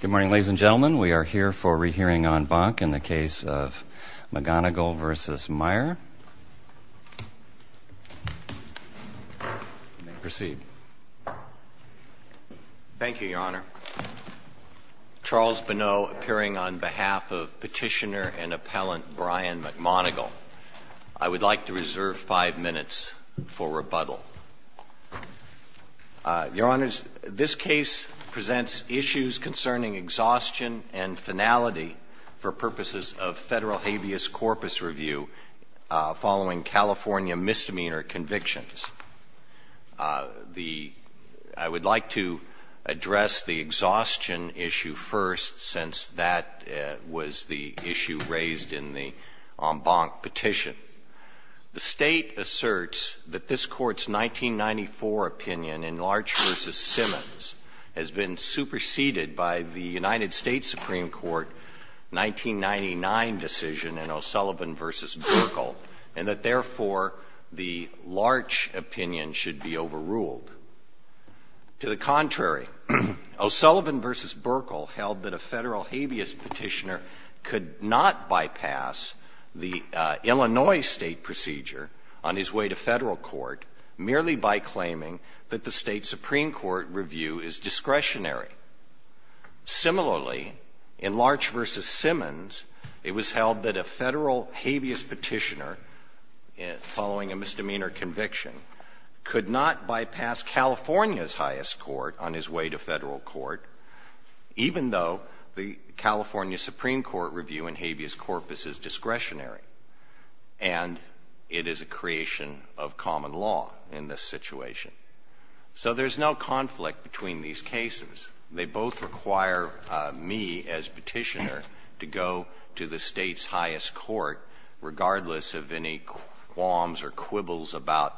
Good morning, ladies and gentlemen. We are here for a re-hearing on Bonk in the case of McMonagle v. Meyer. Proceed. Thank you, Your Honor. Charles Bonneau, appearing on behalf of Petitioner and Appellant Brian McMonagle. I would like to reserve five minutes for rebuttal. Your Honors, this case presents issues concerning exhaustion and finality for purposes of federal habeas corpus review following California misdemeanor convictions. I would like to address the exhaustion issue first, since that was the issue raised in the Bonk petition. The State asserts that this Court's 1994 opinion in Larch v. Simmons has been superseded by the United States Supreme Court 1999 decision in O'Sullivan v. Buerkle, and that, therefore, the Larch opinion should be overruled. To the contrary, O'Sullivan v. Buerkle held that a Federal habeas petitioner could not bypass the Illinois State procedure on his way to Federal court merely by claiming that the State Supreme Court review is discretionary. Similarly, in Larch v. Simmons, it was held that a Federal habeas petitioner, following a misdemeanor conviction, could not bypass California's highest court on his way to Federal court, even though the California Supreme Court review in habeas corpus is discretionary, and it is a creation of common law in this situation. So there's no conflict between these cases. They both require me, as petitioner, to go to the State's highest court, regardless of any qualms or quibbles about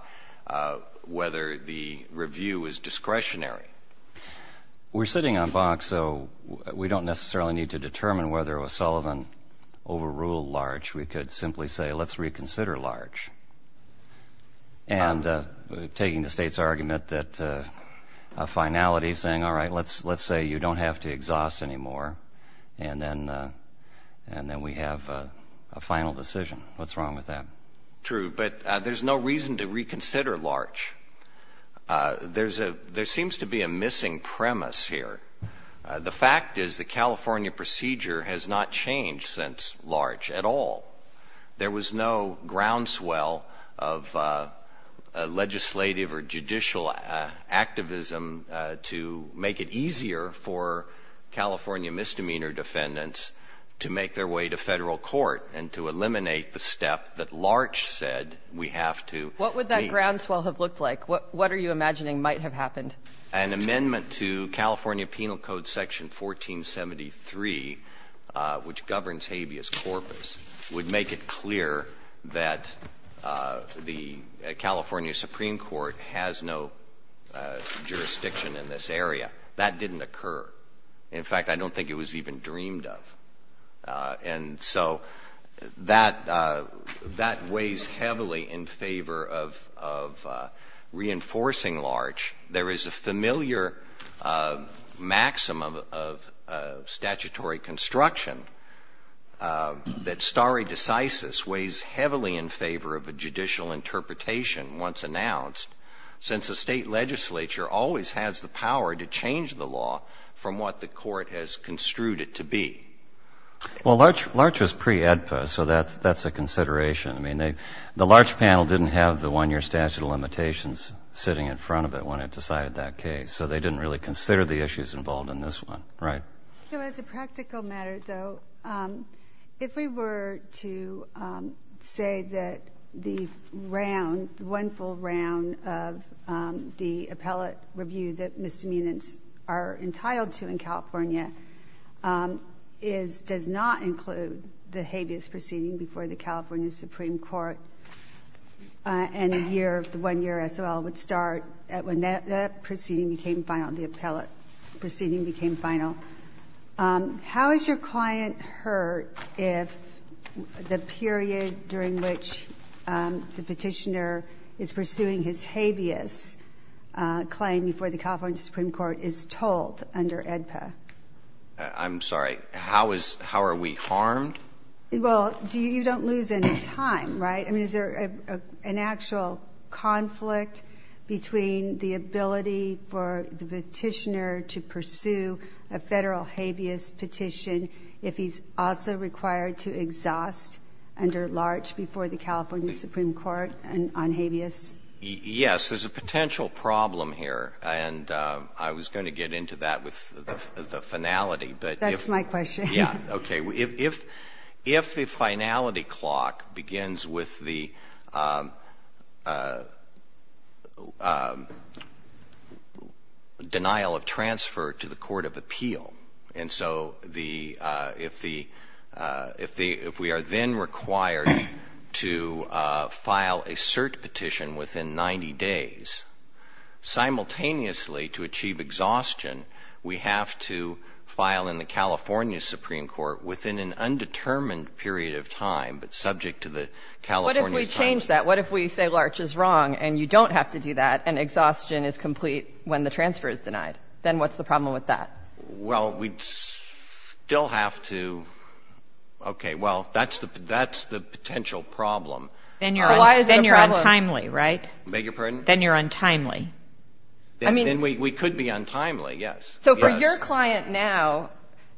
whether the review is discretionary. We're sitting on Bonk, so we don't necessarily need to determine whether O'Sullivan overruled Larch. We could simply say, let's reconsider Larch. And taking the State's argument that a finality saying, all right, let's say you don't have to exhaust anymore, and then we have a final decision. What's wrong with that? True, but there's no reason to reconsider Larch. There seems to be a missing premise here. The fact is the California procedure has not changed since Larch at all. There was no groundswell of legislative or judicial activism to make it easier for California misdemeanor defendants to make their way to Federal court and to eliminate the step that Larch said we have to make. What would that groundswell have looked like? What are you imagining might have happened? An amendment to California Penal Code section 1473, which governs habeas corpus, would make it clear that the California Supreme Court has no jurisdiction in this area. That didn't occur. In fact, I don't think it was even dreamed of. And so that weighs heavily in favor of reinforcing Larch. There is a familiar maxim of statutory construction that stare decisis weighs heavily in favor of a judicial interpretation once announced, since a State legislature always has the power to change the law from what the Court has construed it to be. Well, Larch was pre-AEDPA, so that's a consideration. I mean, the Larch panel didn't have the 1-year statute of limitations sitting in front of it when it decided that case, so they didn't really consider the issues involved in this one, right? So as a practical matter, though, if we were to say that the round, one full round of the appellate review that misdemeanors are entitled to in California does not include the habeas proceeding before the California Supreme Court and a year of the 1-year SOL would start when that proceeding became final, the appellate proceeding became final. How is your client hurt if the period during which the petitioner is pursuing his habeas claim before the California Supreme Court is told under AEDPA? I'm sorry. How is – how are we harmed? Well, you don't lose any time, right? I mean, is there an actual conflict between the ability for the petitioner to pursue a Federal habeas petition if he's also required to exhaust under Larch before the California Supreme Court on habeas? Yes. There's a potential problem here, and I was going to get into that with the finality. That's my question. Yeah, okay. If the finality clock begins with the denial of transfer to the court of appeal, and so if we are then required to file a cert petition within 90 days, simultaneously to achieve exhaustion, we have to file in the California Supreme Court within an undetermined period of time, but subject to the California Supreme Court. What if we change that? What if we say Larch is wrong and you don't have to do that and exhaustion is complete when the transfer is denied? Then what's the problem with that? Well, we'd still have to – okay, well, that's the potential problem. Then you're untimely, right? Beg your pardon? Then you're untimely. Then we could be untimely, yes. So for your client now,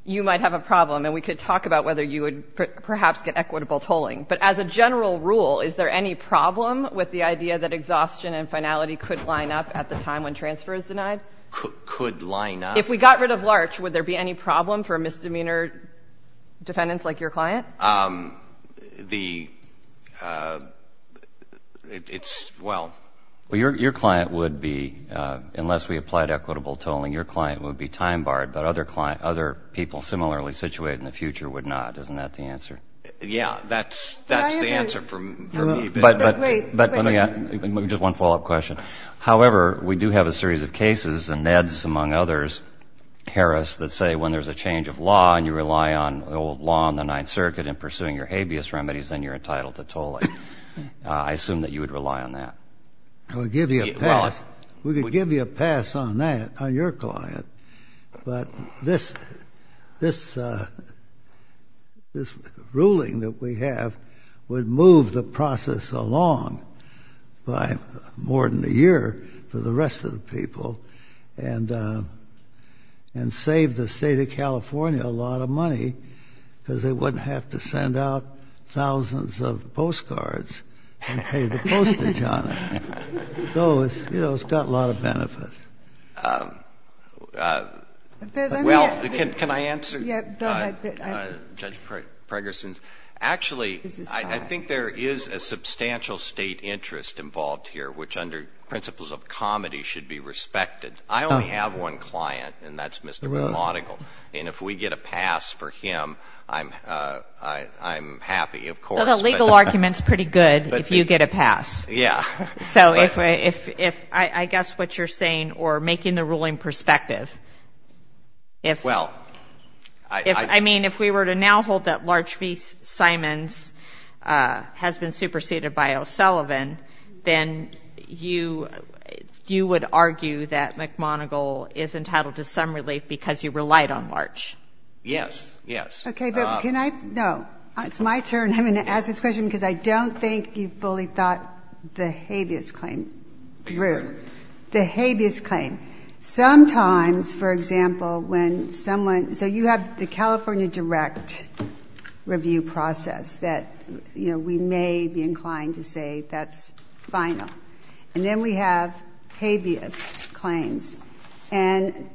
you might have a problem, and we could talk about whether you would perhaps get equitable tolling. But as a general rule, is there any problem with the idea that exhaustion and finality could line up at the time when transfer is denied? Could line up. If we got rid of Larch, would there be any problem for misdemeanor defendants like your client? Well, your client would be, unless we applied equitable tolling, your client would be time barred, but other people similarly situated in the future would not. Isn't that the answer? Yeah, that's the answer for me. Wait, wait. Just one follow-up question. However, we do have a series of cases, and Ned's among others, Harris, that say when there's a change of law and you rely on the old law in the Ninth Circuit in pursuing your habeas remedies, then you're entitled to tolling. I assume that you would rely on that. I would give you a pass. We could give you a pass on that, on your client. But this ruling that we have would move the process along by more than a year for the rest of the people and save the State of California a lot of money because they wouldn't have to send out thousands of postcards and pay the postage on it. So, you know, it's got a lot of benefits. Well, can I answer Judge Pregerson's? Actually, I think there is a substantial State interest involved here, which under principles of comedy should be respected. I only have one client, and that's Mr. Belmodigal. And if we get a pass for him, I'm happy, of course. Well, the legal argument's pretty good if you get a pass. Yeah. So if I guess what you're saying, or making the ruling perspective, if we were to now hold that Larch v. Simons has been superseded by O'Sullivan, then you would argue that McMoneagle is entitled to some relief because you relied on Larch? Yes, yes. Okay, but can I? No. It's my turn. I'm going to ask this question because I don't think you fully thought the habeas claim through. The habeas claim. Sometimes, for example, when someone – so you have the California direct review process that, you know, we may be inclined to say that's final. And then we have habeas claims. And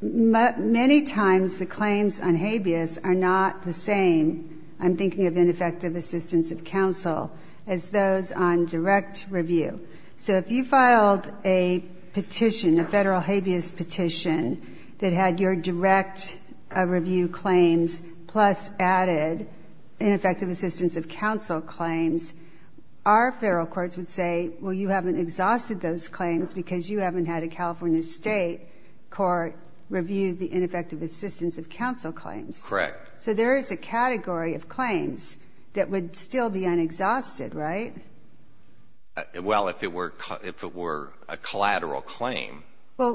many times the claims on habeas are not the same – I'm thinking of ineffective assistance of counsel – as those on direct review. So if you filed a petition, a federal habeas petition, that had your direct review claims plus added ineffective assistance of counsel claims, our federal courts would say, well, you haven't exhausted those claims because you haven't had a California state court review the ineffective assistance of counsel claims. Correct. So there is a category of claims that would still be unexhausted, right? Well, if it were a collateral claim,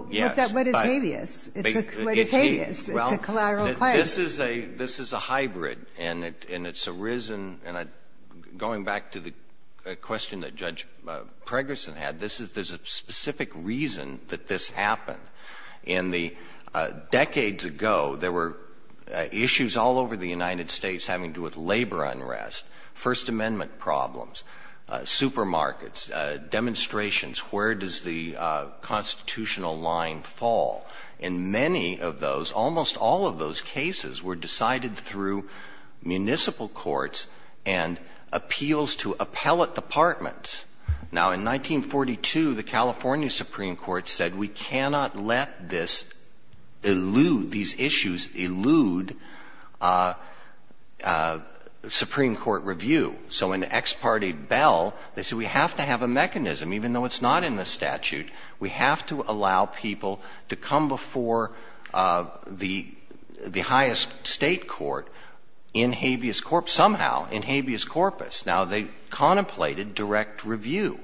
yes. Well, what is habeas? What is habeas? It's a collateral claim. This is a hybrid. And it's arisen – and going back to the question that Judge Pregerson had, there's a specific reason that this happened. In the decades ago, there were issues all over the United States having to do with labor unrest, First Amendment problems, supermarkets, demonstrations, where does the constitutional line fall. In many of those, almost all of those cases were decided through municipal courts and appeals to appellate departments. Now, in 1942, the California Supreme Court said, we cannot let this elude, these have to have a mechanism. Even though it's not in the statute, we have to allow people to come before the highest state court in habeas corpus, somehow in habeas corpus. Now, they contemplated direct review.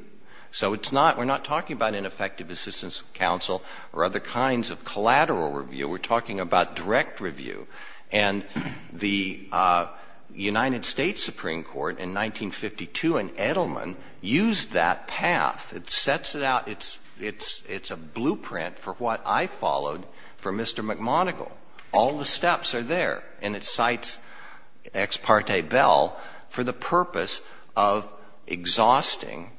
So it's not – we're not talking about ineffective assistance of counsel or other kinds of collateral review. We're talking about direct review. And the United States Supreme Court in 1952 in Edelman used that path. It sets it out. It's a blueprint for what I followed for Mr. McMonigle. All the steps are there. And it cites Ex parte Bell for the purpose of exhausting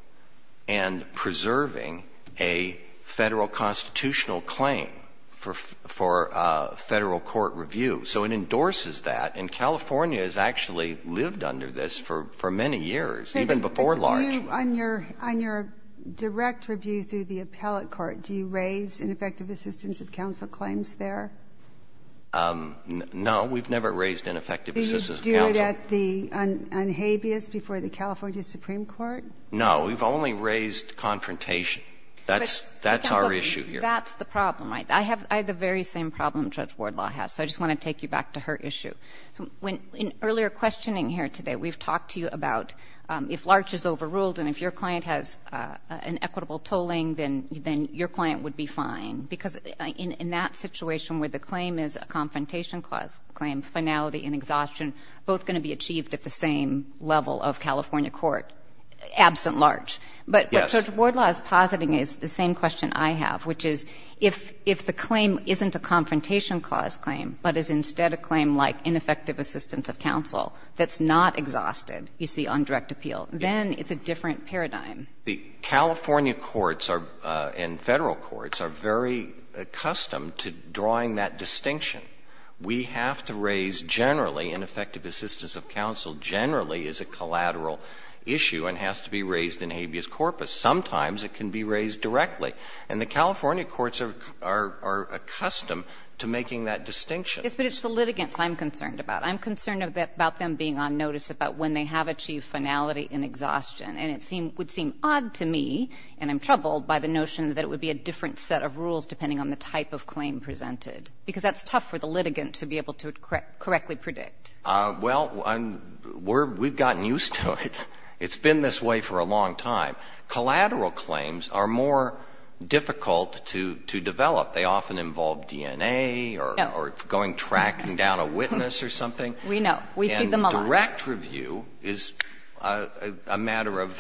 and preserving a Federal constitutional claim for Federal court review. So it endorses that. And California has actually lived under this for many years, even before large. On your direct review through the appellate court, do you raise ineffective assistance of counsel claims there? No. We've never raised ineffective assistance of counsel. Do you do it on habeas before the California Supreme Court? No. We've only raised confrontation. That's our issue here. But, counsel, that's the problem, right? I have the very same problem Judge Wardlaw has. So I just want to take you back to her issue. In earlier questioning here today, we've talked to you about if large is overruled and if your client has an equitable tolling, then your client would be fine. Because in that situation where the claim is a confrontation clause claim, finality and exhaustion, both going to be achieved at the same level of California court, absent large. Yes. But Judge Wardlaw's positing is the same question I have, which is if the claim isn't a confrontation clause claim, but is instead a claim like ineffective assistance of counsel that's not exhausted, you see, on direct appeal, then it's a different paradigm. The California courts and Federal courts are very accustomed to drawing that distinction. We have to raise generally, ineffective assistance of counsel generally is a collateral issue and has to be raised in habeas corpus. Sometimes it can be raised directly. And the California courts are accustomed to making that distinction. Yes, but it's the litigants I'm concerned about. I'm concerned about them being on notice about when they have achieved finality and exhaustion. And it would seem odd to me, and I'm troubled by the notion that it would be a different set of rules depending on the type of claim presented. Because that's tough for the litigant to be able to correctly predict. Well, we've gotten used to it. It's been this way for a long time. Collateral claims are more difficult to develop. They often involve DNA or going tracking down a witness or something. We know. We see them a lot. And direct review is a matter of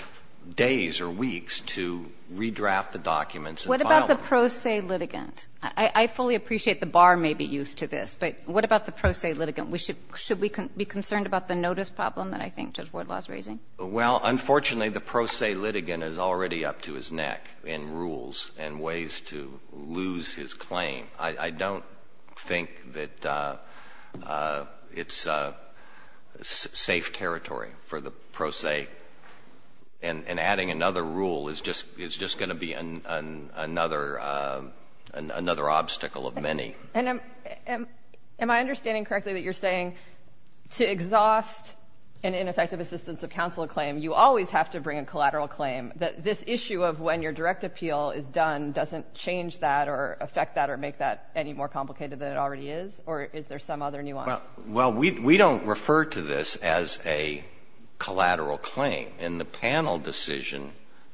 days or weeks to redraft the documents and file them. What about the pro se litigant? I fully appreciate the bar may be used to this, but what about the pro se litigant? Should we be concerned about the notice problem that I think Judge Wardlaw is raising? Well, unfortunately, the pro se litigant is already up to his neck in rules and ways to lose his claim. I don't think that it's safe territory for the pro se. And adding another rule is just going to be another obstacle of many. Am I understanding correctly that you're saying to exhaust an ineffective assistance of counsel claim, you always have to bring a collateral claim? This issue of when your direct appeal is done doesn't change that or affect that or make that any more complicated than it already is? Or is there some other nuance? Well, we don't refer to this as a collateral claim. And the panel decision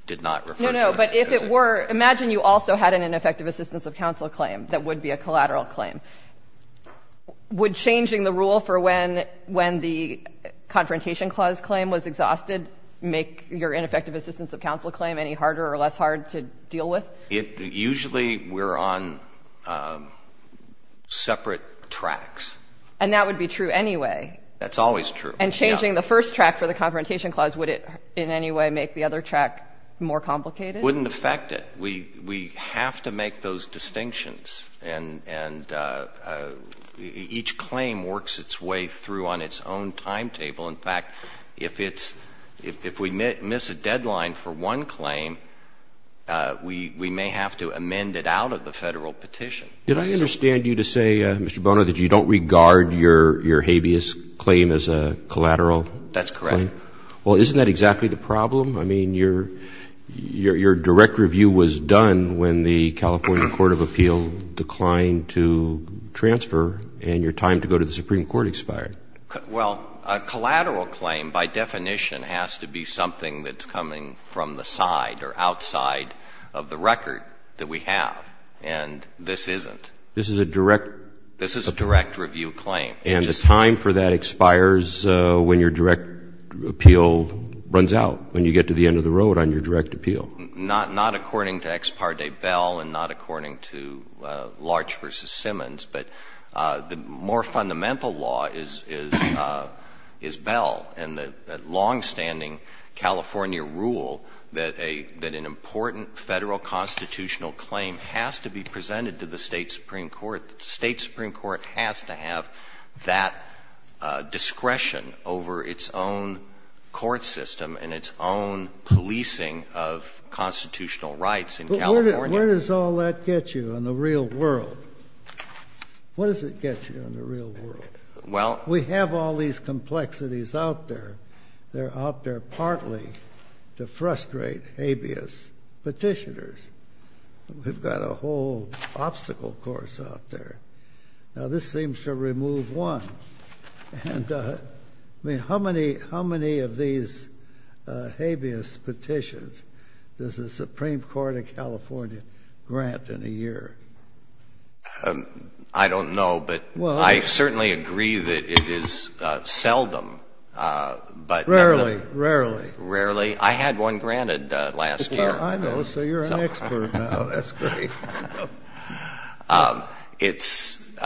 did not refer to it. No, no. But if it were, imagine you also had an ineffective assistance of counsel claim that would be a collateral claim. Would changing the rule for when the Confrontation Clause claim was exhausted make your ineffective assistance of counsel claim any harder or less hard to deal with? Usually we're on separate tracks. And that would be true anyway. That's always true. And changing the first track for the Confrontation Clause, would it in any way make the other track more complicated? Wouldn't affect it. We have to make those distinctions. And each claim works its way through on its own timetable. In fact, if it's — if we miss a deadline for one claim, we may have to amend it out of the Federal petition. Did I understand you to say, Mr. Bonner, that you don't regard your habeas claim as a collateral claim? That's correct. Well, isn't that exactly the problem? I mean, your direct review was done when the California Court of Appeal declined to transfer and your time to go to the Supreme Court expired. Well, a collateral claim by definition has to be something that's coming from the side or outside of the record that we have. And this isn't. This is a direct — This is a direct review claim. And the time for that expires when your direct appeal runs out, when you get to the end of the road on your direct appeal. Not according to Ex Parte Bell and not according to Larch v. Simmons. But the more fundamental law is Bell and the longstanding California rule that an important Federal constitutional claim has to be presented to the State Supreme Court. The State Supreme Court has to have that discretion over its own court system and its own policing of constitutional rights in California. But where does all that get you in the real world? What does it get you in the real world? Well — We have all these complexities out there. They're out there partly to frustrate habeas Petitioners. We've got a whole obstacle course out there. Now, this seems to remove one. I mean, how many of these habeas petitions does the Supreme Court of California grant in a year? I don't know, but I certainly agree that it is seldom. Rarely, rarely. Rarely. I had one granted last year. I know. So you're an expert now. That's great. It's —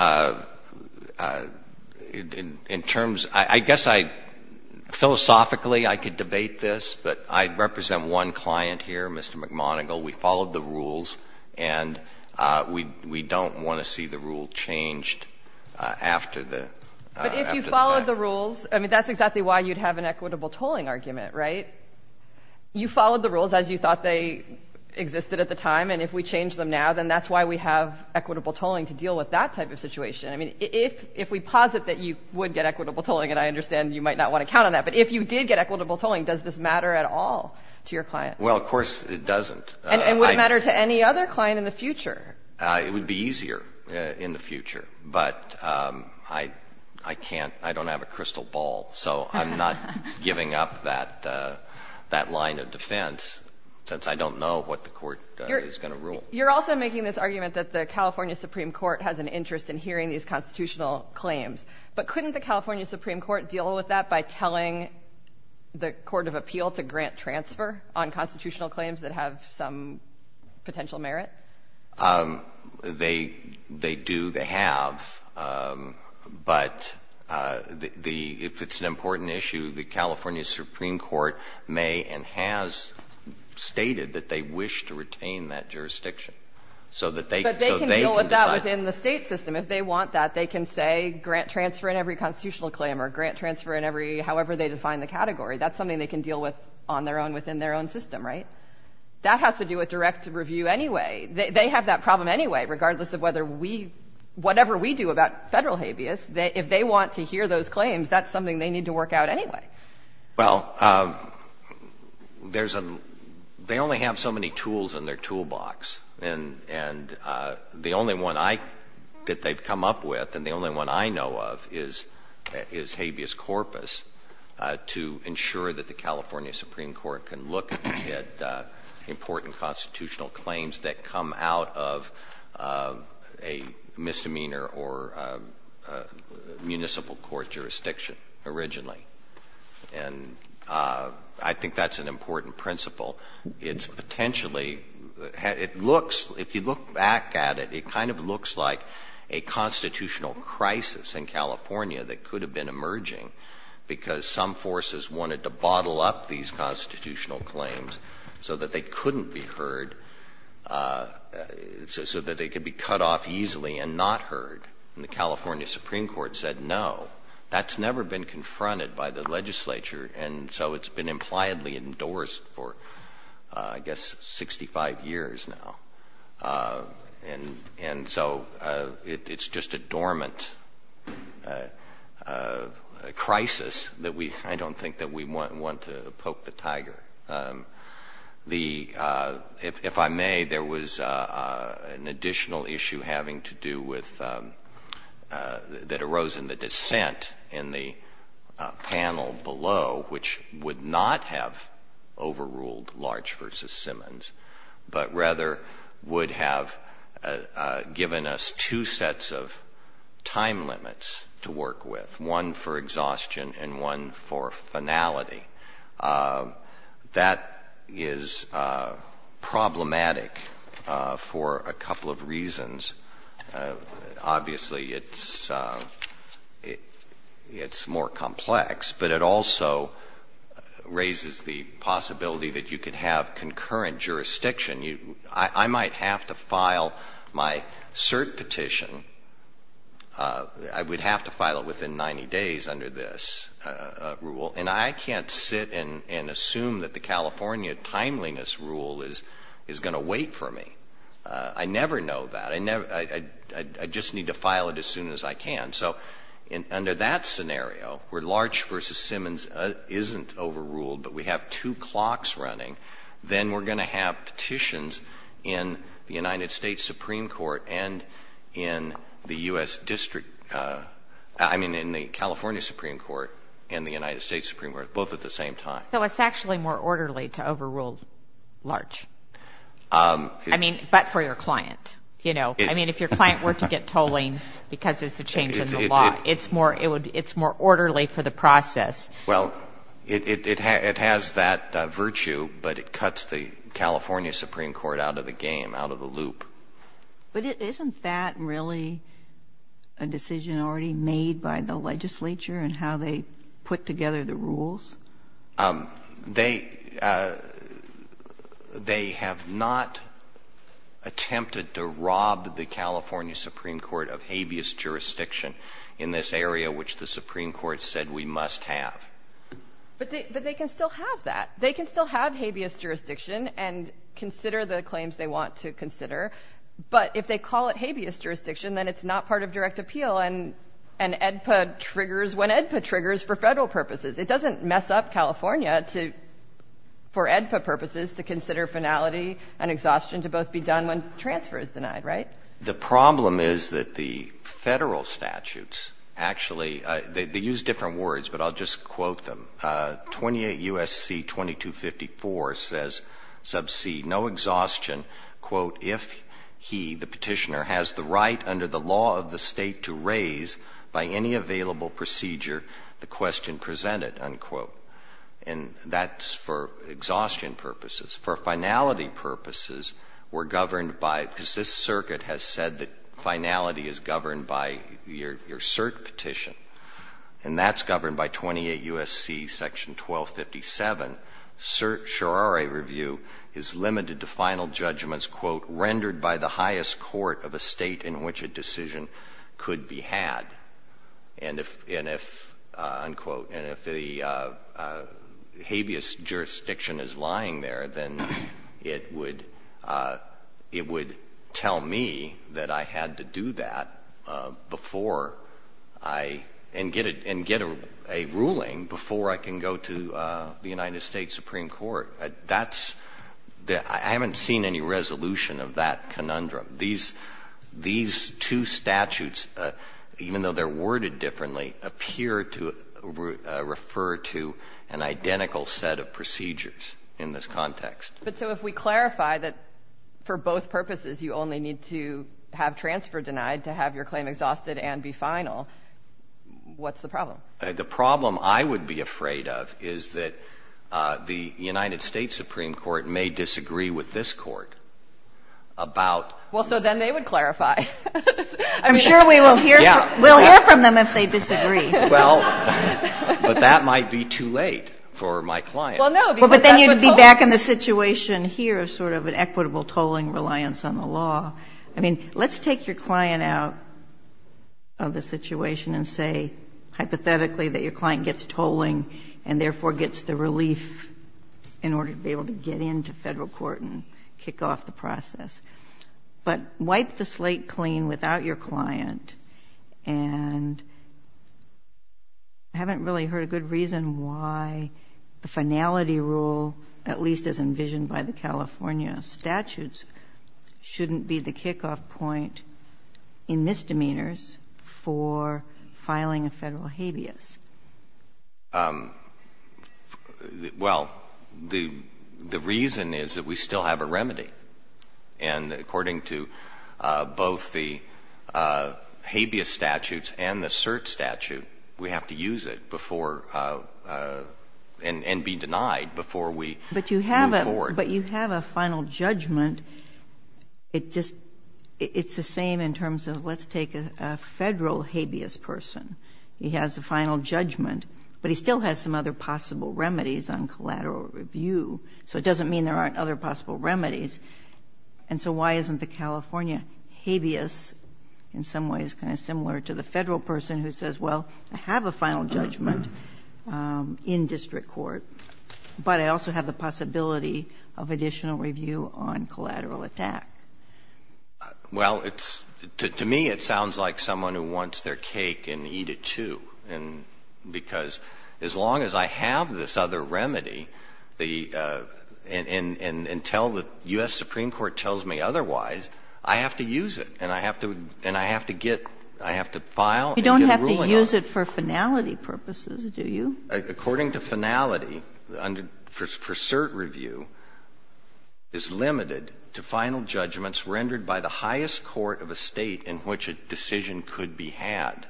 in terms — I guess I — philosophically, I could debate this, but I represent one client here, Mr. McMonigle. We followed the rules, and we don't want to see the rule changed after the fact. But if you followed the rules — I mean, that's exactly why you'd have an equitable tolling argument, right? You followed the rules as you thought they existed at the time, and if we change them now, then that's why we have equitable tolling to deal with that type of situation. I mean, if we posit that you would get equitable tolling, and I understand you might not want to count on that, but if you did get equitable tolling, does this matter at all to your client? Well, of course it doesn't. And would it matter to any other client in the future? It would be easier in the future, but I can't — I don't have a crystal ball, so I'm not giving up that line of defense since I don't know what the court is going to rule. You're also making this argument that the California Supreme Court has an interest in hearing these constitutional claims, but couldn't the California Supreme Court deal with that by telling the court of appeal to grant transfer on constitutional claims that have some potential merit? They do. They have. But if it's an important issue, the California Supreme Court may and has stated that they wish to retain that jurisdiction. But they can deal with that within the state system. If they want that, they can say grant transfer in every constitutional claim or grant transfer in every — however they define the category. That's something they can deal with on their own within their own system, right? That has to do with direct review anyway. They have that problem anyway, regardless of whether we — whatever we do about federal habeas. If they want to hear those claims, that's something they need to work out anyway. Well, there's a — they only have so many tools in their toolbox. And the only one I — that they've come up with and the only one I know of is habeas corpus to ensure that the California Supreme Court can look at important constitutional claims that come out of a misdemeanor or municipal court jurisdiction originally. And I think that's an important principle. It's potentially — it looks — if you look back at it, it kind of looks like a constitutional crisis in California that could have been emerging because some forces wanted to bottle up these constitutional claims so that they couldn't be heard, so that they could be cut off easily and not heard. And the California Supreme Court said no. That's never been confronted by the legislature. And so it's been impliedly endorsed for, I guess, 65 years now. And so it's just a dormant crisis that we — I don't think that we want to poke the tiger. The — if I may, there was an additional issue having to do with — that arose in the dissent in the panel below, which would not have overruled Large v. Simmons, but rather would have given us two sets of time limits to work with, one for exhaustion and one for finality. That is problematic for a couple of reasons. Obviously, it's more complex, but it also raises the possibility that you could have concurrent jurisdiction. I might have to file my cert petition. I would have to file it within 90 days under this rule, and I can't sit and assume that the California timeliness rule is going to wait for me. I never know that. I just need to file it as soon as I can. So under that scenario, where Large v. Simmons isn't overruled but we have two clocks running, then we're going to have petitions in the United States Supreme Court and in the U.S. District — I mean, in the California Supreme Court and the United States Supreme Court, both at the same time. So it's actually more orderly to overrule Large? I mean, but for your client. I mean, if your client were to get tolling because it's a change in the law, it's more orderly for the process. Well, it has that virtue, but it cuts the California Supreme Court out of the game, out of the loop. But isn't that really a decision already made by the legislature in how they put together the rules? They have not attempted to rob the California Supreme Court of habeas jurisdiction in this area, which the Supreme Court said we must have. But they can still have that. They can still have habeas jurisdiction and consider the claims they want to consider. But if they call it habeas jurisdiction, then it's not part of direct appeal, and EDPA triggers when EDPA triggers for Federal purposes. It doesn't mess up California to, for EDPA purposes, to consider finality and exhaustion to both be done when transfer is denied, right? The problem is that the Federal statutes actually — they use different words, but I'll just quote them. 28 U.S.C. 2254 says, sub C, no exhaustion, quote, And that's for exhaustion purposes. For finality purposes, we're governed by — because this circuit has said that finality is governed by your cert petition, and that's governed by 28 U.S.C. section 1257, certiorari review is limited to final judgments, quote, rendered by the highest court of a State in which a decision could be had. And if — and if, unquote, and if the habeas jurisdiction is lying there, then it would — it would tell me that I had to do that before I — and get a — before I can go to the United States Supreme Court. That's — I haven't seen any resolution of that conundrum. These two statutes, even though they're worded differently, appear to refer to an identical set of procedures in this context. But so if we clarify that for both purposes you only need to have transfer denied to have your claim exhausted and be final, what's the problem? The problem I would be afraid of is that the United States Supreme Court may disagree with this court about — Well, so then they would clarify. I'm sure we will hear — we'll hear from them if they disagree. Well, but that might be too late for my client. Well, no, because that's what — Well, but then you'd be back in the situation here, sort of an equitable tolling reliance on the law. I mean, let's take your client out of the situation and say hypothetically that your client gets tolling and therefore gets the relief in order to be able to get into federal court and kick off the process. But wipe the slate clean without your client. And I haven't really heard a good reason why the finality rule, at least as envisioned by the California statutes, shouldn't be the kickoff point in misdemeanors for filing a federal habeas. Well, the reason is that we still have a remedy. And according to both the habeas statutes and the cert statute, we have to use it before — and be denied before we move forward. But you have a final judgment. It just — it's the same in terms of let's take a federal habeas person. He has a final judgment, but he still has some other possible remedies on collateral review, so it doesn't mean there aren't other possible remedies. And so why isn't the California habeas in some ways kind of similar to the federal person who says, well, I have a final judgment in district court, but I also have the possibility of additional review on collateral attack? Well, it's — to me, it sounds like someone who wants their cake and eat it, too. And because as long as I have this other remedy, and until the U.S. Supreme Court tells me otherwise, I have to use it. And I have to — and I have to get — I have to file and get a ruling on it. You don't have to use it for finality purposes, do you? According to finality, for cert review, it's limited to final judgments rendered by the highest court of a State in which a decision could be had.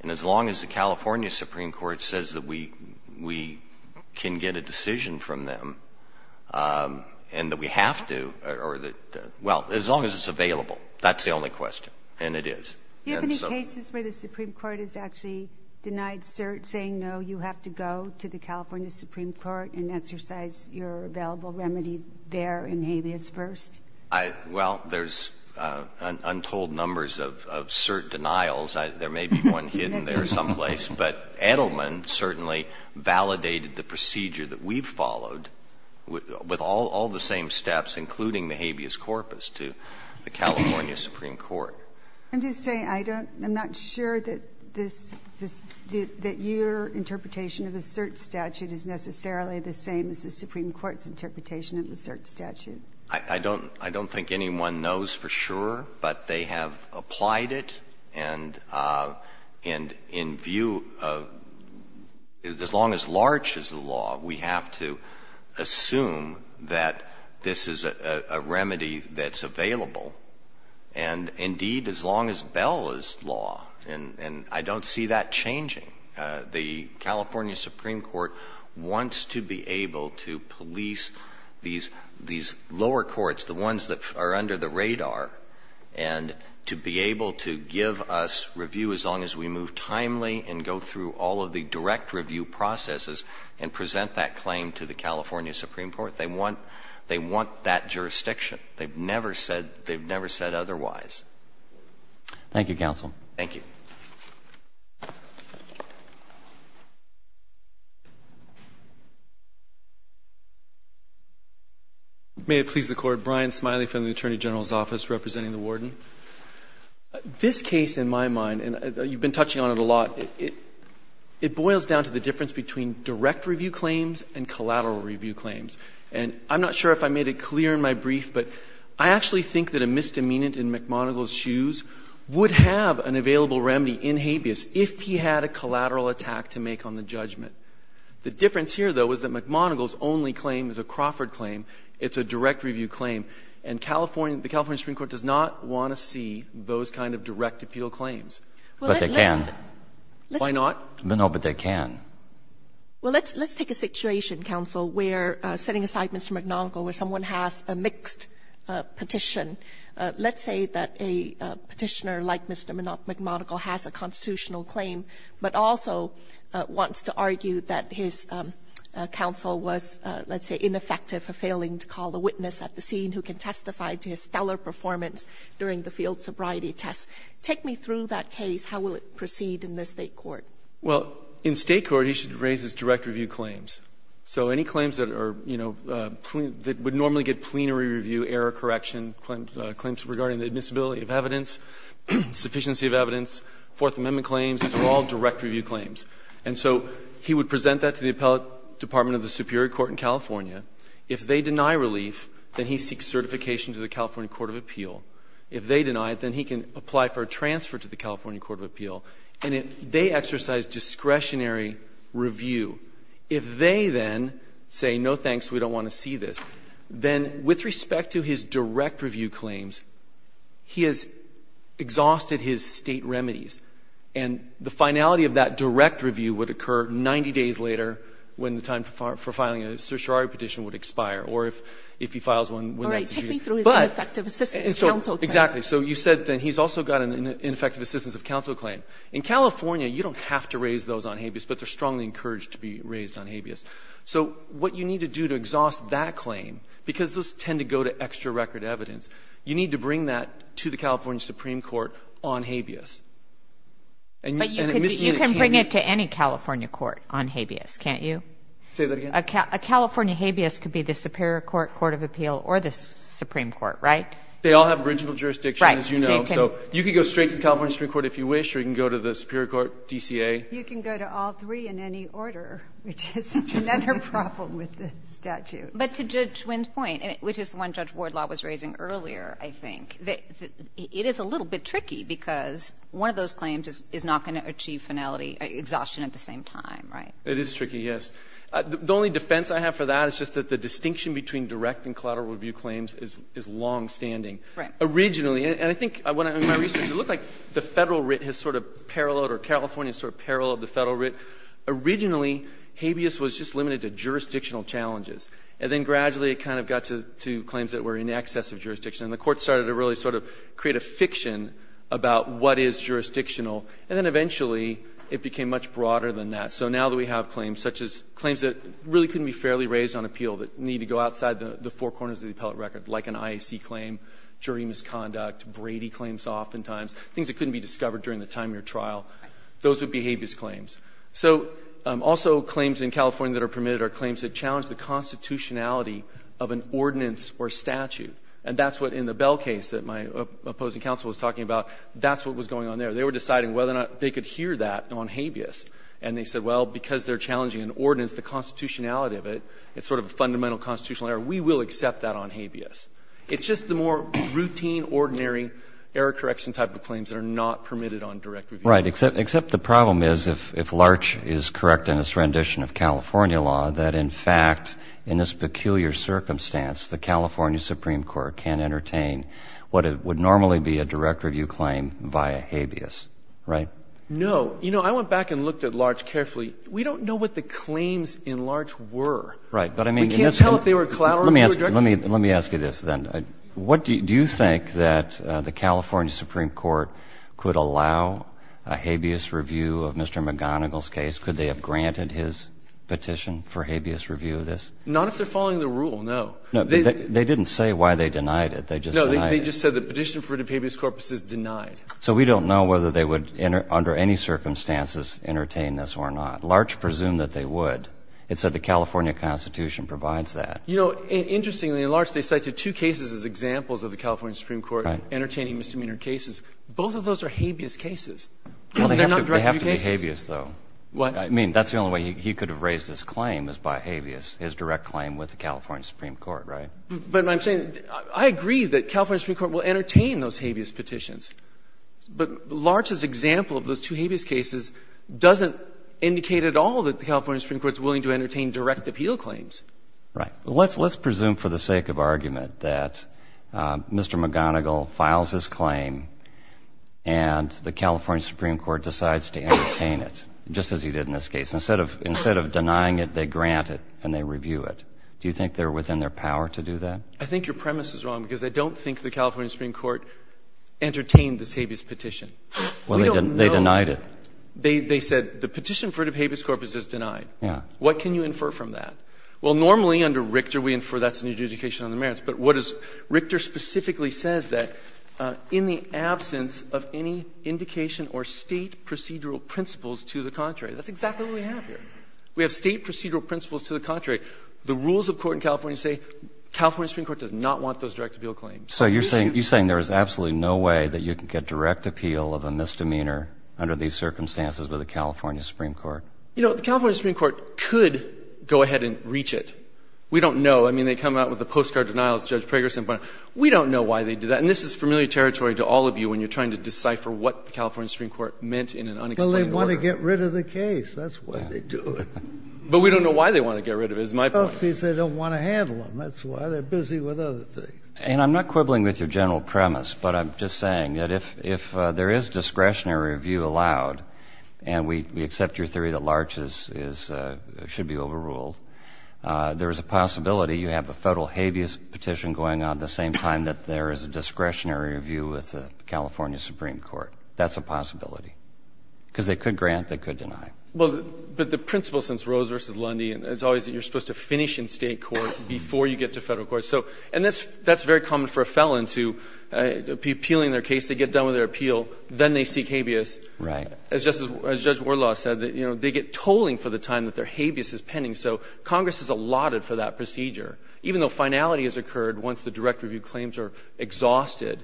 And as long as the California Supreme Court says that we can get a decision from them and that we have to — or that — well, as long as it's available, that's the only question. And it is. Do you have any cases where the Supreme Court has actually denied cert, saying, no, you have to go to the California Supreme Court and exercise your available remedy there in habeas first? Well, there's untold numbers of cert denials. There may be one hidden there someplace. But Edelman certainly validated the procedure that we've followed with all the same steps, including the habeas corpus, to the California Supreme Court. I'm just saying I don't — I'm not sure that this — that your interpretation of the cert statute is necessarily the same as the Supreme Court's interpretation of the cert statute. I don't — I don't think anyone knows for sure, but they have applied it. And in view of — as long as Larch is the law, we have to assume that this is a remedy that's available. And indeed, as long as Bell is law — and I don't see that changing. The California Supreme Court wants to be able to police these lower courts, the ones that are under the radar, and to be able to give us review as long as we move timely and go through all of the direct review processes and present that claim to the California Supreme Court. They want — they want that jurisdiction. They've never said — they've never said otherwise. Thank you, counsel. Thank you. May it please the Court. Brian Smiley from the Attorney General's Office representing the Warden. This case, in my mind, and you've been touching on it a lot, it boils down to the difference between direct review claims and collateral review claims. And I'm not sure if I made it clear in my brief, but I actually think that a misdemeanant in McMonigle's shoes would have an available remedy in habeas if he had a collateral attack to make on the judgment. The difference here, though, is that McMonigle's only claim is a Crawford claim. It's a direct review claim. And California — the California Supreme Court does not want to see those kind of direct appeal claims. But they can. Why not? No, but they can. Well, let's take a situation, counsel, where setting assignments to McMonigle where someone has a mixed petition, let's say that a petitioner like Mr. McMonigle has a constitutional claim, but also wants to argue that his counsel was, let's say, ineffective for failing to call the witness at the scene who can testify to his stellar performance during the field sobriety test. Take me through that case. How will it proceed in the State court? Well, in State court, he should raise his direct review claims. So any claims that are, you know, that would normally get plenary review, error correction, claims regarding the admissibility of evidence, sufficiency of evidence, Fourth Amendment claims, these are all direct review claims. And so he would present that to the Appellate Department of the Superior Court in California. If they deny relief, then he seeks certification to the California Court of Appeal. If they deny it, then he can apply for a transfer to the California Court of Appeal. And if they exercise discretionary review, if they then say, no, thanks, we don't want to see this, then with respect to his direct review claims, he has exhausted his State remedies. And the finality of that direct review would occur 90 days later when the time for filing a certiorari petition would expire, or if he files one when that's due. All right. Take me through his ineffective assistance of counsel claim. Exactly. So you said that he's also got an ineffective assistance of counsel claim. In California, you don't have to raise those on habeas, but they're strongly encouraged to be raised on habeas. So what you need to do to exhaust that claim, because those tend to go to extra record evidence, you need to bring that to the California Supreme Court on habeas. And Ms. Ena can't do that. But you can bring it to any California court on habeas, can't you? Say that again. A California habeas could be the Superior Court, Court of Appeal, or the Supreme Court, right? They all have original jurisdiction, as you know. Right. So you can go straight to the California Supreme Court if you wish, or you can go to the Superior Court, DCA. You can go to all three in any order, which is another problem with the statute. But to Judge Wynn's point, which is the one Judge Wardlaw was raising earlier, I think, it is a little bit tricky because one of those claims is not going to achieve finality, exhaustion at the same time, right? It is tricky, yes. The only defense I have for that is just that the distinction between direct and And I think in my research, it looked like the Federal writ has sort of paralleled or California has sort of paralleled the Federal writ. Originally, habeas was just limited to jurisdictional challenges. And then gradually it kind of got to claims that were in excess of jurisdiction. And the Court started to really sort of create a fiction about what is jurisdictional. And then eventually it became much broader than that. So now that we have claims, such as claims that really couldn't be fairly raised on appeal, that need to go outside the four corners of the appellate record, like an IAC claim, jury misconduct, Brady claims oftentimes, things that couldn't be discovered during the time of your trial, those would be habeas claims. So also claims in California that are permitted are claims that challenge the constitutionality of an ordinance or statute. And that's what in the Bell case that my opposing counsel was talking about, that's what was going on there. They were deciding whether or not they could hear that on habeas. And they said, well, because they're challenging an ordinance, the constitutionality of it, it's sort of a fundamental constitutional error. We will accept that on habeas. It's just the more routine, ordinary error correction type of claims that are not permitted on direct review. Roberts. Except the problem is, if Larch is correct in his rendition of California law, that in fact in this peculiar circumstance the California Supreme Court can entertain what would normally be a direct review claim via habeas, right? No. You know, I went back and looked at Larch carefully. We don't know what the claims in Larch were. Right. We can't tell if they were collateral or direct. Let me ask you this, then. Do you think that the California Supreme Court could allow a habeas review of Mr. McGonigal's case? Could they have granted his petition for habeas review of this? Not if they're following the rule, no. They didn't say why they denied it. They just denied it. No, they just said the petition for the habeas corpus is denied. So we don't know whether they would under any circumstances entertain this or not. But Larch presumed that they would. It said the California Constitution provides that. You know, interestingly, in Larch they cited two cases as examples of the California Supreme Court entertaining misdemeanor cases. Both of those are habeas cases. They're not direct review cases. Well, they have to be habeas, though. What? I mean, that's the only way he could have raised his claim is by habeas, his direct claim with the California Supreme Court, right? But I'm saying I agree that California Supreme Court will entertain those habeas petitions. But Larch's example of those two habeas cases doesn't indicate at all that the California Supreme Court is willing to entertain direct appeal claims. Right. Let's presume for the sake of argument that Mr. McGonigal files his claim and the California Supreme Court decides to entertain it, just as he did in this case. Instead of denying it, they grant it and they review it. Do you think they're within their power to do that? I think your premise is wrong, because I don't think the California Supreme Court entertained this habeas petition. We don't know. Well, they denied it. They said the petition for the habeas corpus is denied. Yeah. What can you infer from that? Well, normally under Richter we infer that's a new jurisdiction under the merits. But what is – Richter specifically says that in the absence of any indication or State procedural principles to the contrary. That's exactly what we have here. We have State procedural principles to the contrary. The rules of court in California say California Supreme Court does not want those direct appeal claims. So you're saying there is absolutely no way that you can get direct appeal of a misdemeanor under these circumstances with the California Supreme Court? You know, the California Supreme Court could go ahead and reach it. We don't know. I mean, they come out with the postcard denials, Judge Prager said, but we don't know why they did that. And this is familiar territory to all of you when you're trying to decipher what the California Supreme Court meant in an unexplained order. Well, they want to get rid of the case. That's why they do it. But we don't know why they want to get rid of it, is my point. They don't want to handle them. That's why they're busy with other things. And I'm not quibbling with your general premise, but I'm just saying that if there is discretionary review allowed, and we accept your theory that Larch should be overruled, there is a possibility you have a Federal habeas petition going on at the same time that there is a discretionary review with the California Supreme Court. That's a possibility. Because they could grant, they could deny. Well, but the principle since Rose v. Lundy is always that you're supposed to finish in State court before you get to Federal court. And that's very common for a felon to be appealing their case. They get done with their appeal. Then they seek habeas. Right. As Judge Wardlaw said, they get tolling for the time that their habeas is pending. So Congress is allotted for that procedure, even though finality has occurred once the direct review claims are exhausted.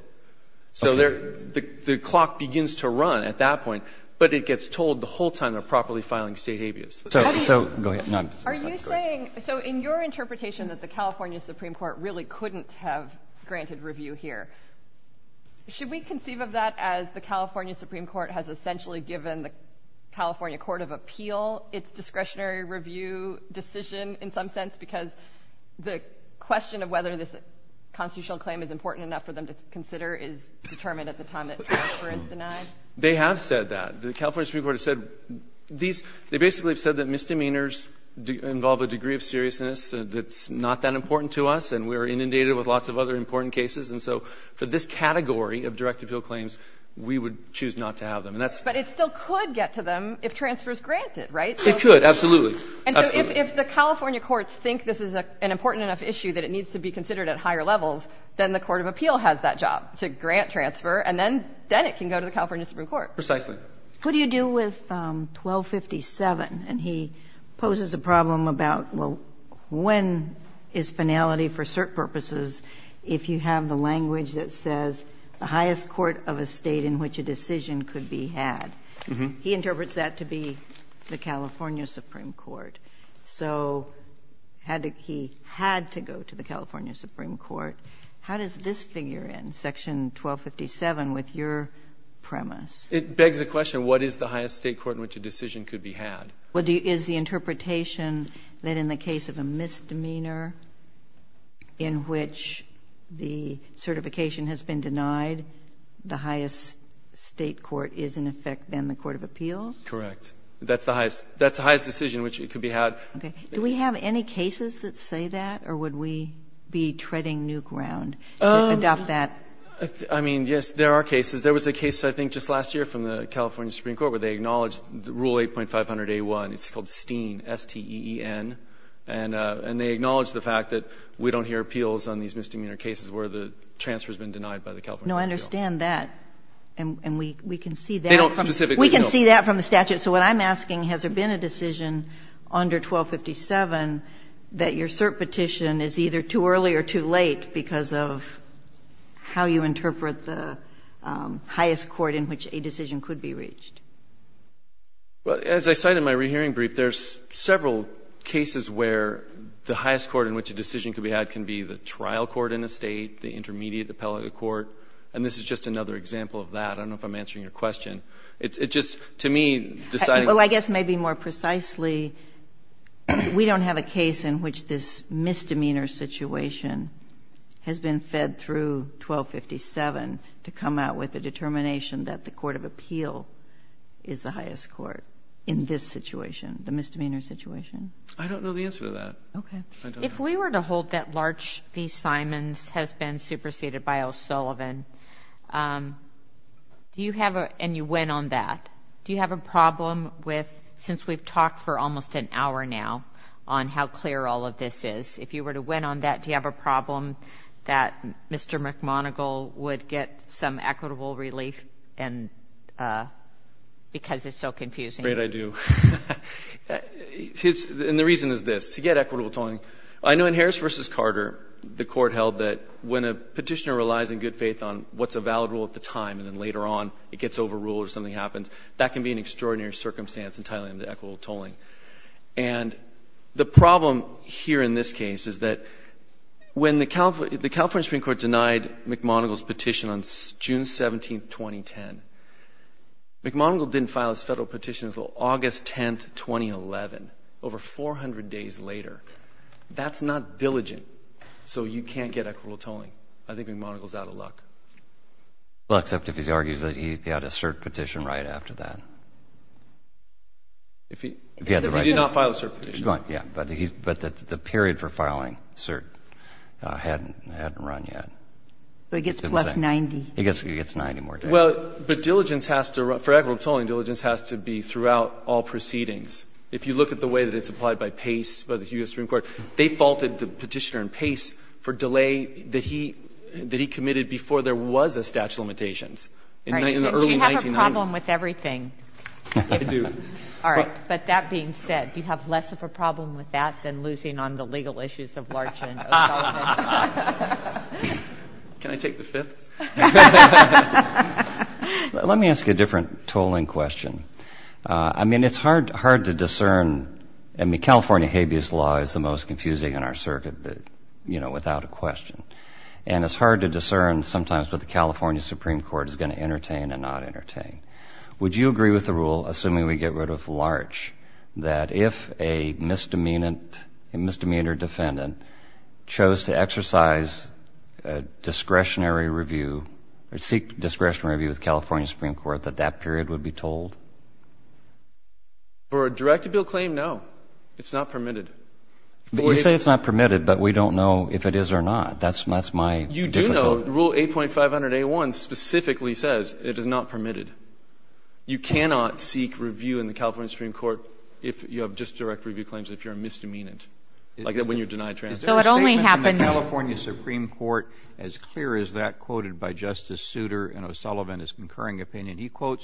So the clock begins to run at that point, but it gets tolled the whole time they're properly filing State habeas. So go ahead. Are you saying, so in your interpretation that the California Supreme Court really couldn't have granted review here, should we conceive of that as the California Supreme Court has essentially given the California court of appeal its discretionary review decision in some sense, because the question of whether this constitutional claim is important enough for them to consider is determined at the time that Trooper is denied? They have said that. The California Supreme Court has said these, they basically have said that misdemeanors involve a degree of seriousness that's not that important to us, and we're inundated with lots of other important cases. And so for this category of direct appeal claims, we would choose not to have them. But it still could get to them if transfer is granted, right? It could, absolutely. And so if the California courts think this is an important enough issue that it needs to be considered at higher levels, then the court of appeal has that job to grant transfer, and then it can go to the California Supreme Court. Precisely. What do you do with 1257? And he poses a problem about, well, when is finality for cert purposes if you have the language that says the highest court of a State in which a decision could be had? He interprets that to be the California Supreme Court. So he had to go to the California Supreme Court. How does this figure in, section 1257, with your premise? It begs the question, what is the highest State court in which a decision could be had? Is the interpretation that in the case of a misdemeanor in which the certification has been denied, the highest State court is in effect then the court of appeals? Correct. That's the highest decision in which it could be had. Okay. Do we have any cases that say that, or would we be treading new ground to adopt that? I mean, yes, there are cases. There was a case I think just last year from the California Supreme Court where they acknowledged Rule 8.500a1, it's called STEEN, S-T-E-E-N, and they acknowledged the fact that we don't hear appeals on these misdemeanor cases where the transfer has been denied by the California Supreme Court. No, I understand that. And we can see that from the statute. They don't specifically know. So what I'm asking, has there been a decision under 1257 that your cert petition is either too early or too late because of how you interpret the highest court in which a decision could be reached? Well, as I cite in my rehearing brief, there's several cases where the highest court in which a decision could be had can be the trial court in a State, the intermediate appellate court, and this is just another example of that. I don't know if I'm answering your question. It's just, to me, deciding. Well, I guess maybe more precisely, we don't have a case in which this misdemeanor situation has been fed through 1257 to come out with a determination that the Court of Appeal is the highest court in this situation, the misdemeanor situation. I don't know the answer to that. Okay. If we were to hold that Larch v. Simons has been superseded by O'Sullivan, and you went on that, do you have a problem with, since we've talked for almost an hour now on how clear all of this is, if you were to went on that, do you have a problem that Mr. McMonigle would get some equitable relief because it's so confusing? Great, I do. And the reason is this. To get equitable tolling, I know in Harris v. Carter, the Court held that when a petitioner relies in good faith on what's a valid rule at the time and then later on it gets overruled or something happens, that can be an extraordinary circumstance in terms of equitable tolling. And the problem here in this case is that when the California Supreme Court denied McMonigle's petition on June 17, 2010, McMonigle didn't file his federal petition until August 10, 2011, over 400 days later. That's not diligent. So you can't get equitable tolling. I think McMonigle's out of luck. Well, except if he argues that he got a cert petition right after that. He did not file a cert petition. Yeah. But the period for filing cert hadn't run yet. So he gets plus 90. He gets 90 more days. Well, but diligence has to run. For equitable tolling, diligence has to be throughout all proceedings. If you look at the way that it's applied by Pace, by the U.S. Supreme Court, they faulted the petitioner in Pace for delay that he committed before there was a statute of limitations in the early 1990s. Right. So you have a problem with everything. I do. All right. But that being said, do you have less of a problem with that than losing on the legal issues of Larch and O'Sullivan? Can I take the fifth? Let me ask you a different tolling question. I mean, it's hard to discern. I mean, California habeas law is the most confusing in our circuit, but, you know, without a question. And it's hard to discern sometimes what the California Supreme Court is going to entertain and not entertain. Would you agree with the rule, assuming we get rid of Larch, that if a misdemeanor defendant chose to exercise discretionary review or seek discretionary review with the California Supreme Court, that that period would be told? For a directive bill claim, no. It's not permitted. You say it's not permitted, but we don't know if it is or not. That's my difficulty. You do know. Rule 8.500A1 specifically says it is not permitted. You cannot seek review in the California Supreme Court if you have just direct review claims if you're a misdemeanant, like when you deny transgression. Is there a statement from the California Supreme Court as clear as that quoted by He quotes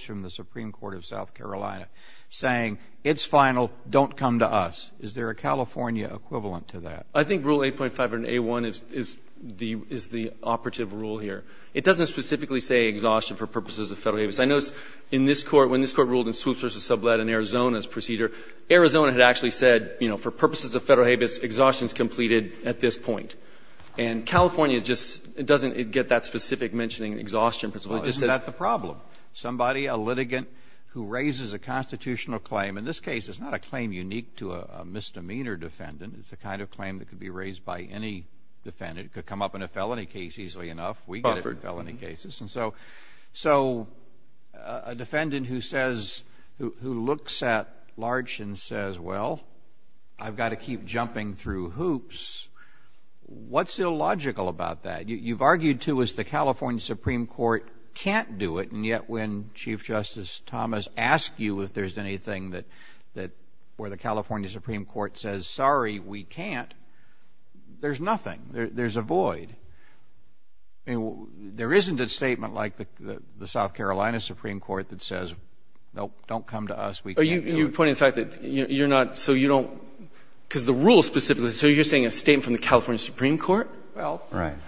from the Supreme Court of South Carolina saying, it's final, don't come to us. Is there a California equivalent to that? I think Rule 8.500A1 is the operative rule here. It doesn't specifically say exhaustion for purposes of federal habeas. I noticed in this Court, when this Court ruled in Swoops v. Sublette in Arizona's procedure, Arizona had actually said, you know, for purposes of federal habeas, exhaustion is completed at this point. And California just doesn't get that specific mentioning exhaustion principle. Isn't that the problem? Somebody, a litigant who raises a constitutional claim, in this case, it's not a claim unique to a misdemeanor defendant. It's the kind of claim that could be raised by any defendant. It could come up in a felony case easily enough. We get it in felony cases. And so a defendant who says, who looks at Larch and says, well, I've got to keep jumping through hoops, what's illogical about that? You've argued, too, as the California Supreme Court can't do it, and yet when Chief Justice Thomas asked you if there's anything that where the California Supreme Court says, sorry, we can't, there's nothing. There's a void. I mean, there isn't a statement like the South Carolina Supreme Court that says, nope, don't come to us, we can't do it. You're pointing to the fact that you're not so you don't – because the rule specifically, so you're saying a statement from the California Supreme Court? Well,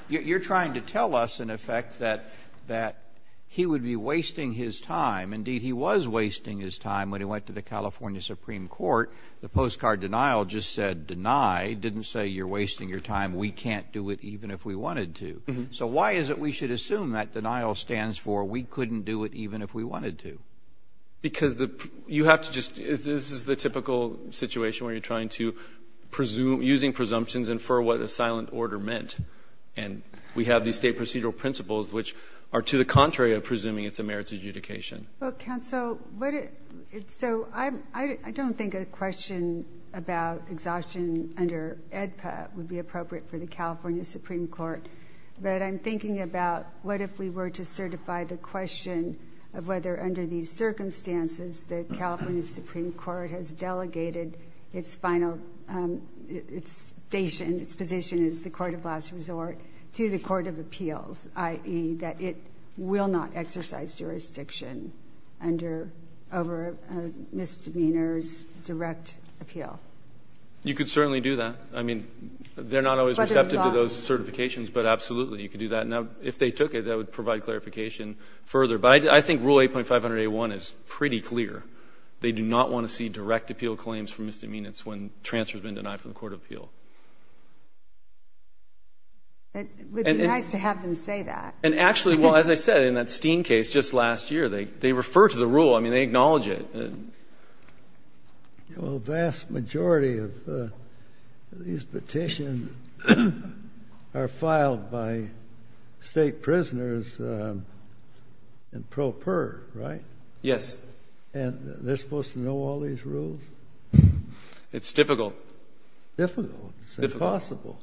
you're trying to tell us, in effect, that he would be wasting his time. Indeed, he was wasting his time when he went to the California Supreme Court. The postcard denial just said deny, didn't say you're wasting your time. We can't do it even if we wanted to. So why is it we should assume that denial stands for we couldn't do it even if we wanted to? Because you have to just – this is the typical situation where you're trying to infer what a silent order meant. And we have these state procedural principles which are to the contrary of presuming it's a merits adjudication. Well, counsel, so I don't think a question about exhaustion under AEDPA would be appropriate for the California Supreme Court. But I'm thinking about what if we were to certify the question of whether under these circumstances the California Supreme Court has delegated its final – its station, its position as the court of last resort to the court of appeals, i.e., that it will not exercise jurisdiction under – over a misdemeanor's direct appeal. You could certainly do that. I mean, they're not always receptive to those certifications, but absolutely you could do that. Now, if they took it, that would provide clarification further. But I think Rule 8.500A1 is pretty clear. They do not want to see direct appeal claims for misdemeanors when transfers have been denied from the court of appeal. It would be nice to have them say that. And actually, well, as I said, in that Steen case just last year, they refer to the rule. I mean, they acknowledge it. Well, a vast majority of these petitions are filed by state prisoners in pro per, right? Yes. And they're supposed to know all these rules? It's difficult. Difficult? Difficult. It's impossible.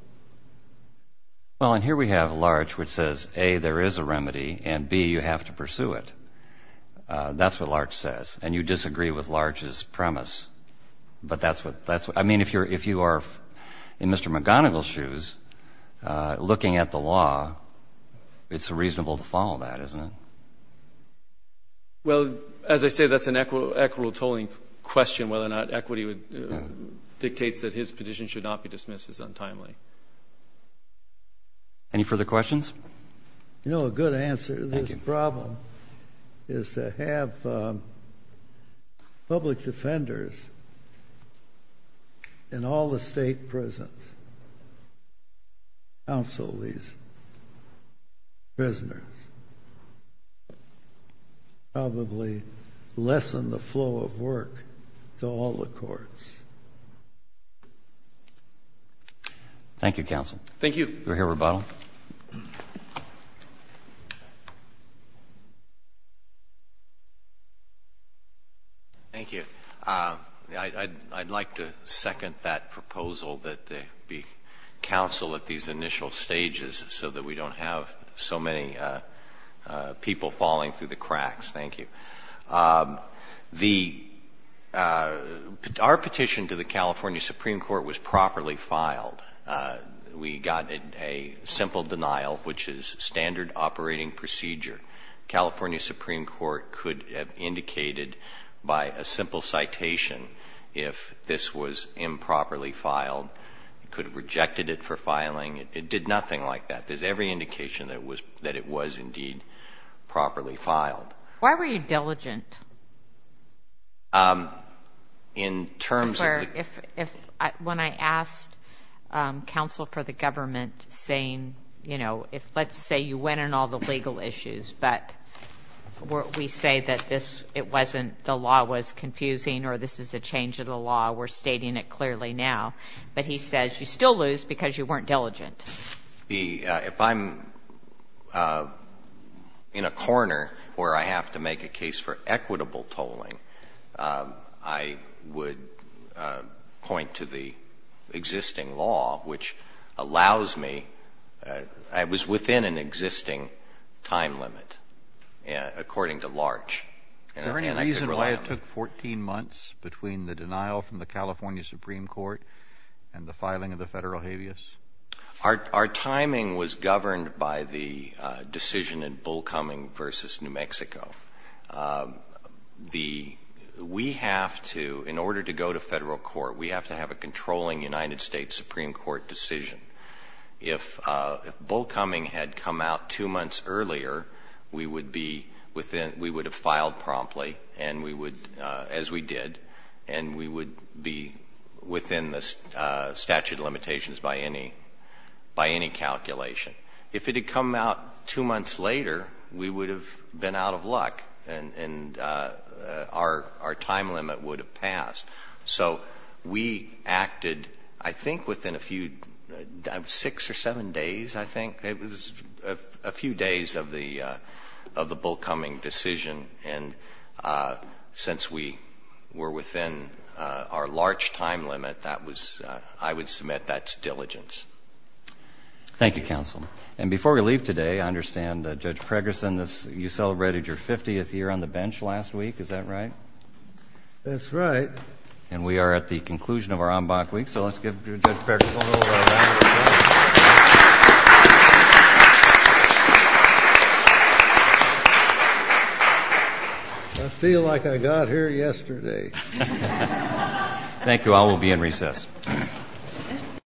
Well, and here we have Larch, which says, A, there is a remedy, and B, you have to pursue it. That's what Larch says. And you disagree with Larch's premise. But that's what – I mean, if you are in Mr. McGonigal's shoes looking at the law, it's reasonable to follow that, isn't it? Well, as I say, that's an equitable tolling question, whether or not equity dictates that his petition should not be dismissed as untimely. Any further questions? You know, a good answer to this problem is to have public defenders in all the state prisons counsel these prisoners. Probably lessen the flow of work to all the courts. Thank you, Counsel. Thank you. Go ahead, Rebuttal. Thank you. I'd like to second that proposal that there be counsel at these initial stages so that we don't have so many people falling through the cracks. Thank you. The – our petition to the California Supreme Court was properly filed. We got a simple denial, which is standard operating procedure. The California Supreme Court could have indicated by a simple citation if this was improperly filed. It could have rejected it for filing. It did nothing like that. There's every indication that it was indeed properly filed. Why were you diligent? In terms of the – When I asked counsel for the government saying, you know, if let's say you went on all the legal issues, but we say that this – it wasn't the law was confusing or this is a change of the law, we're stating it clearly now, but he says you still lose because you weren't diligent. If I'm in a corner where I have to make a case for equitable tolling, I would point to the existing law, which allows me – it was within an existing time limit, according to Larch. Is there any reason why it took 14 months between the denial from the California Supreme Court and the filing of the federal habeas? Our timing was governed by the decision in Bull Cumming versus New Mexico. The – we have to, in order to go to federal court, we have to have a controlling United States Supreme Court decision. If Bull Cumming had come out two months earlier, we would be within – we would have filed promptly and we would, as we did, and we would be within the statute of limitations by any calculation. If it had come out two months later, we would have been out of luck and our time limit would have passed. So we acted, I think, within a few – six or seven days, I think. It was a few days of the Bull Cumming decision. And since we were within our Larch time limit, that was – I would submit that's diligence. Thank you, counsel. And before we leave today, I understand, Judge Pregerson, you celebrated your 50th year on the bench last week. Is that right? That's right. And we are at the conclusion of our en banc week, so let's give Judge Pregerson a round of applause. Thank you. I feel like I got here yesterday. Thank you. I will be in recess.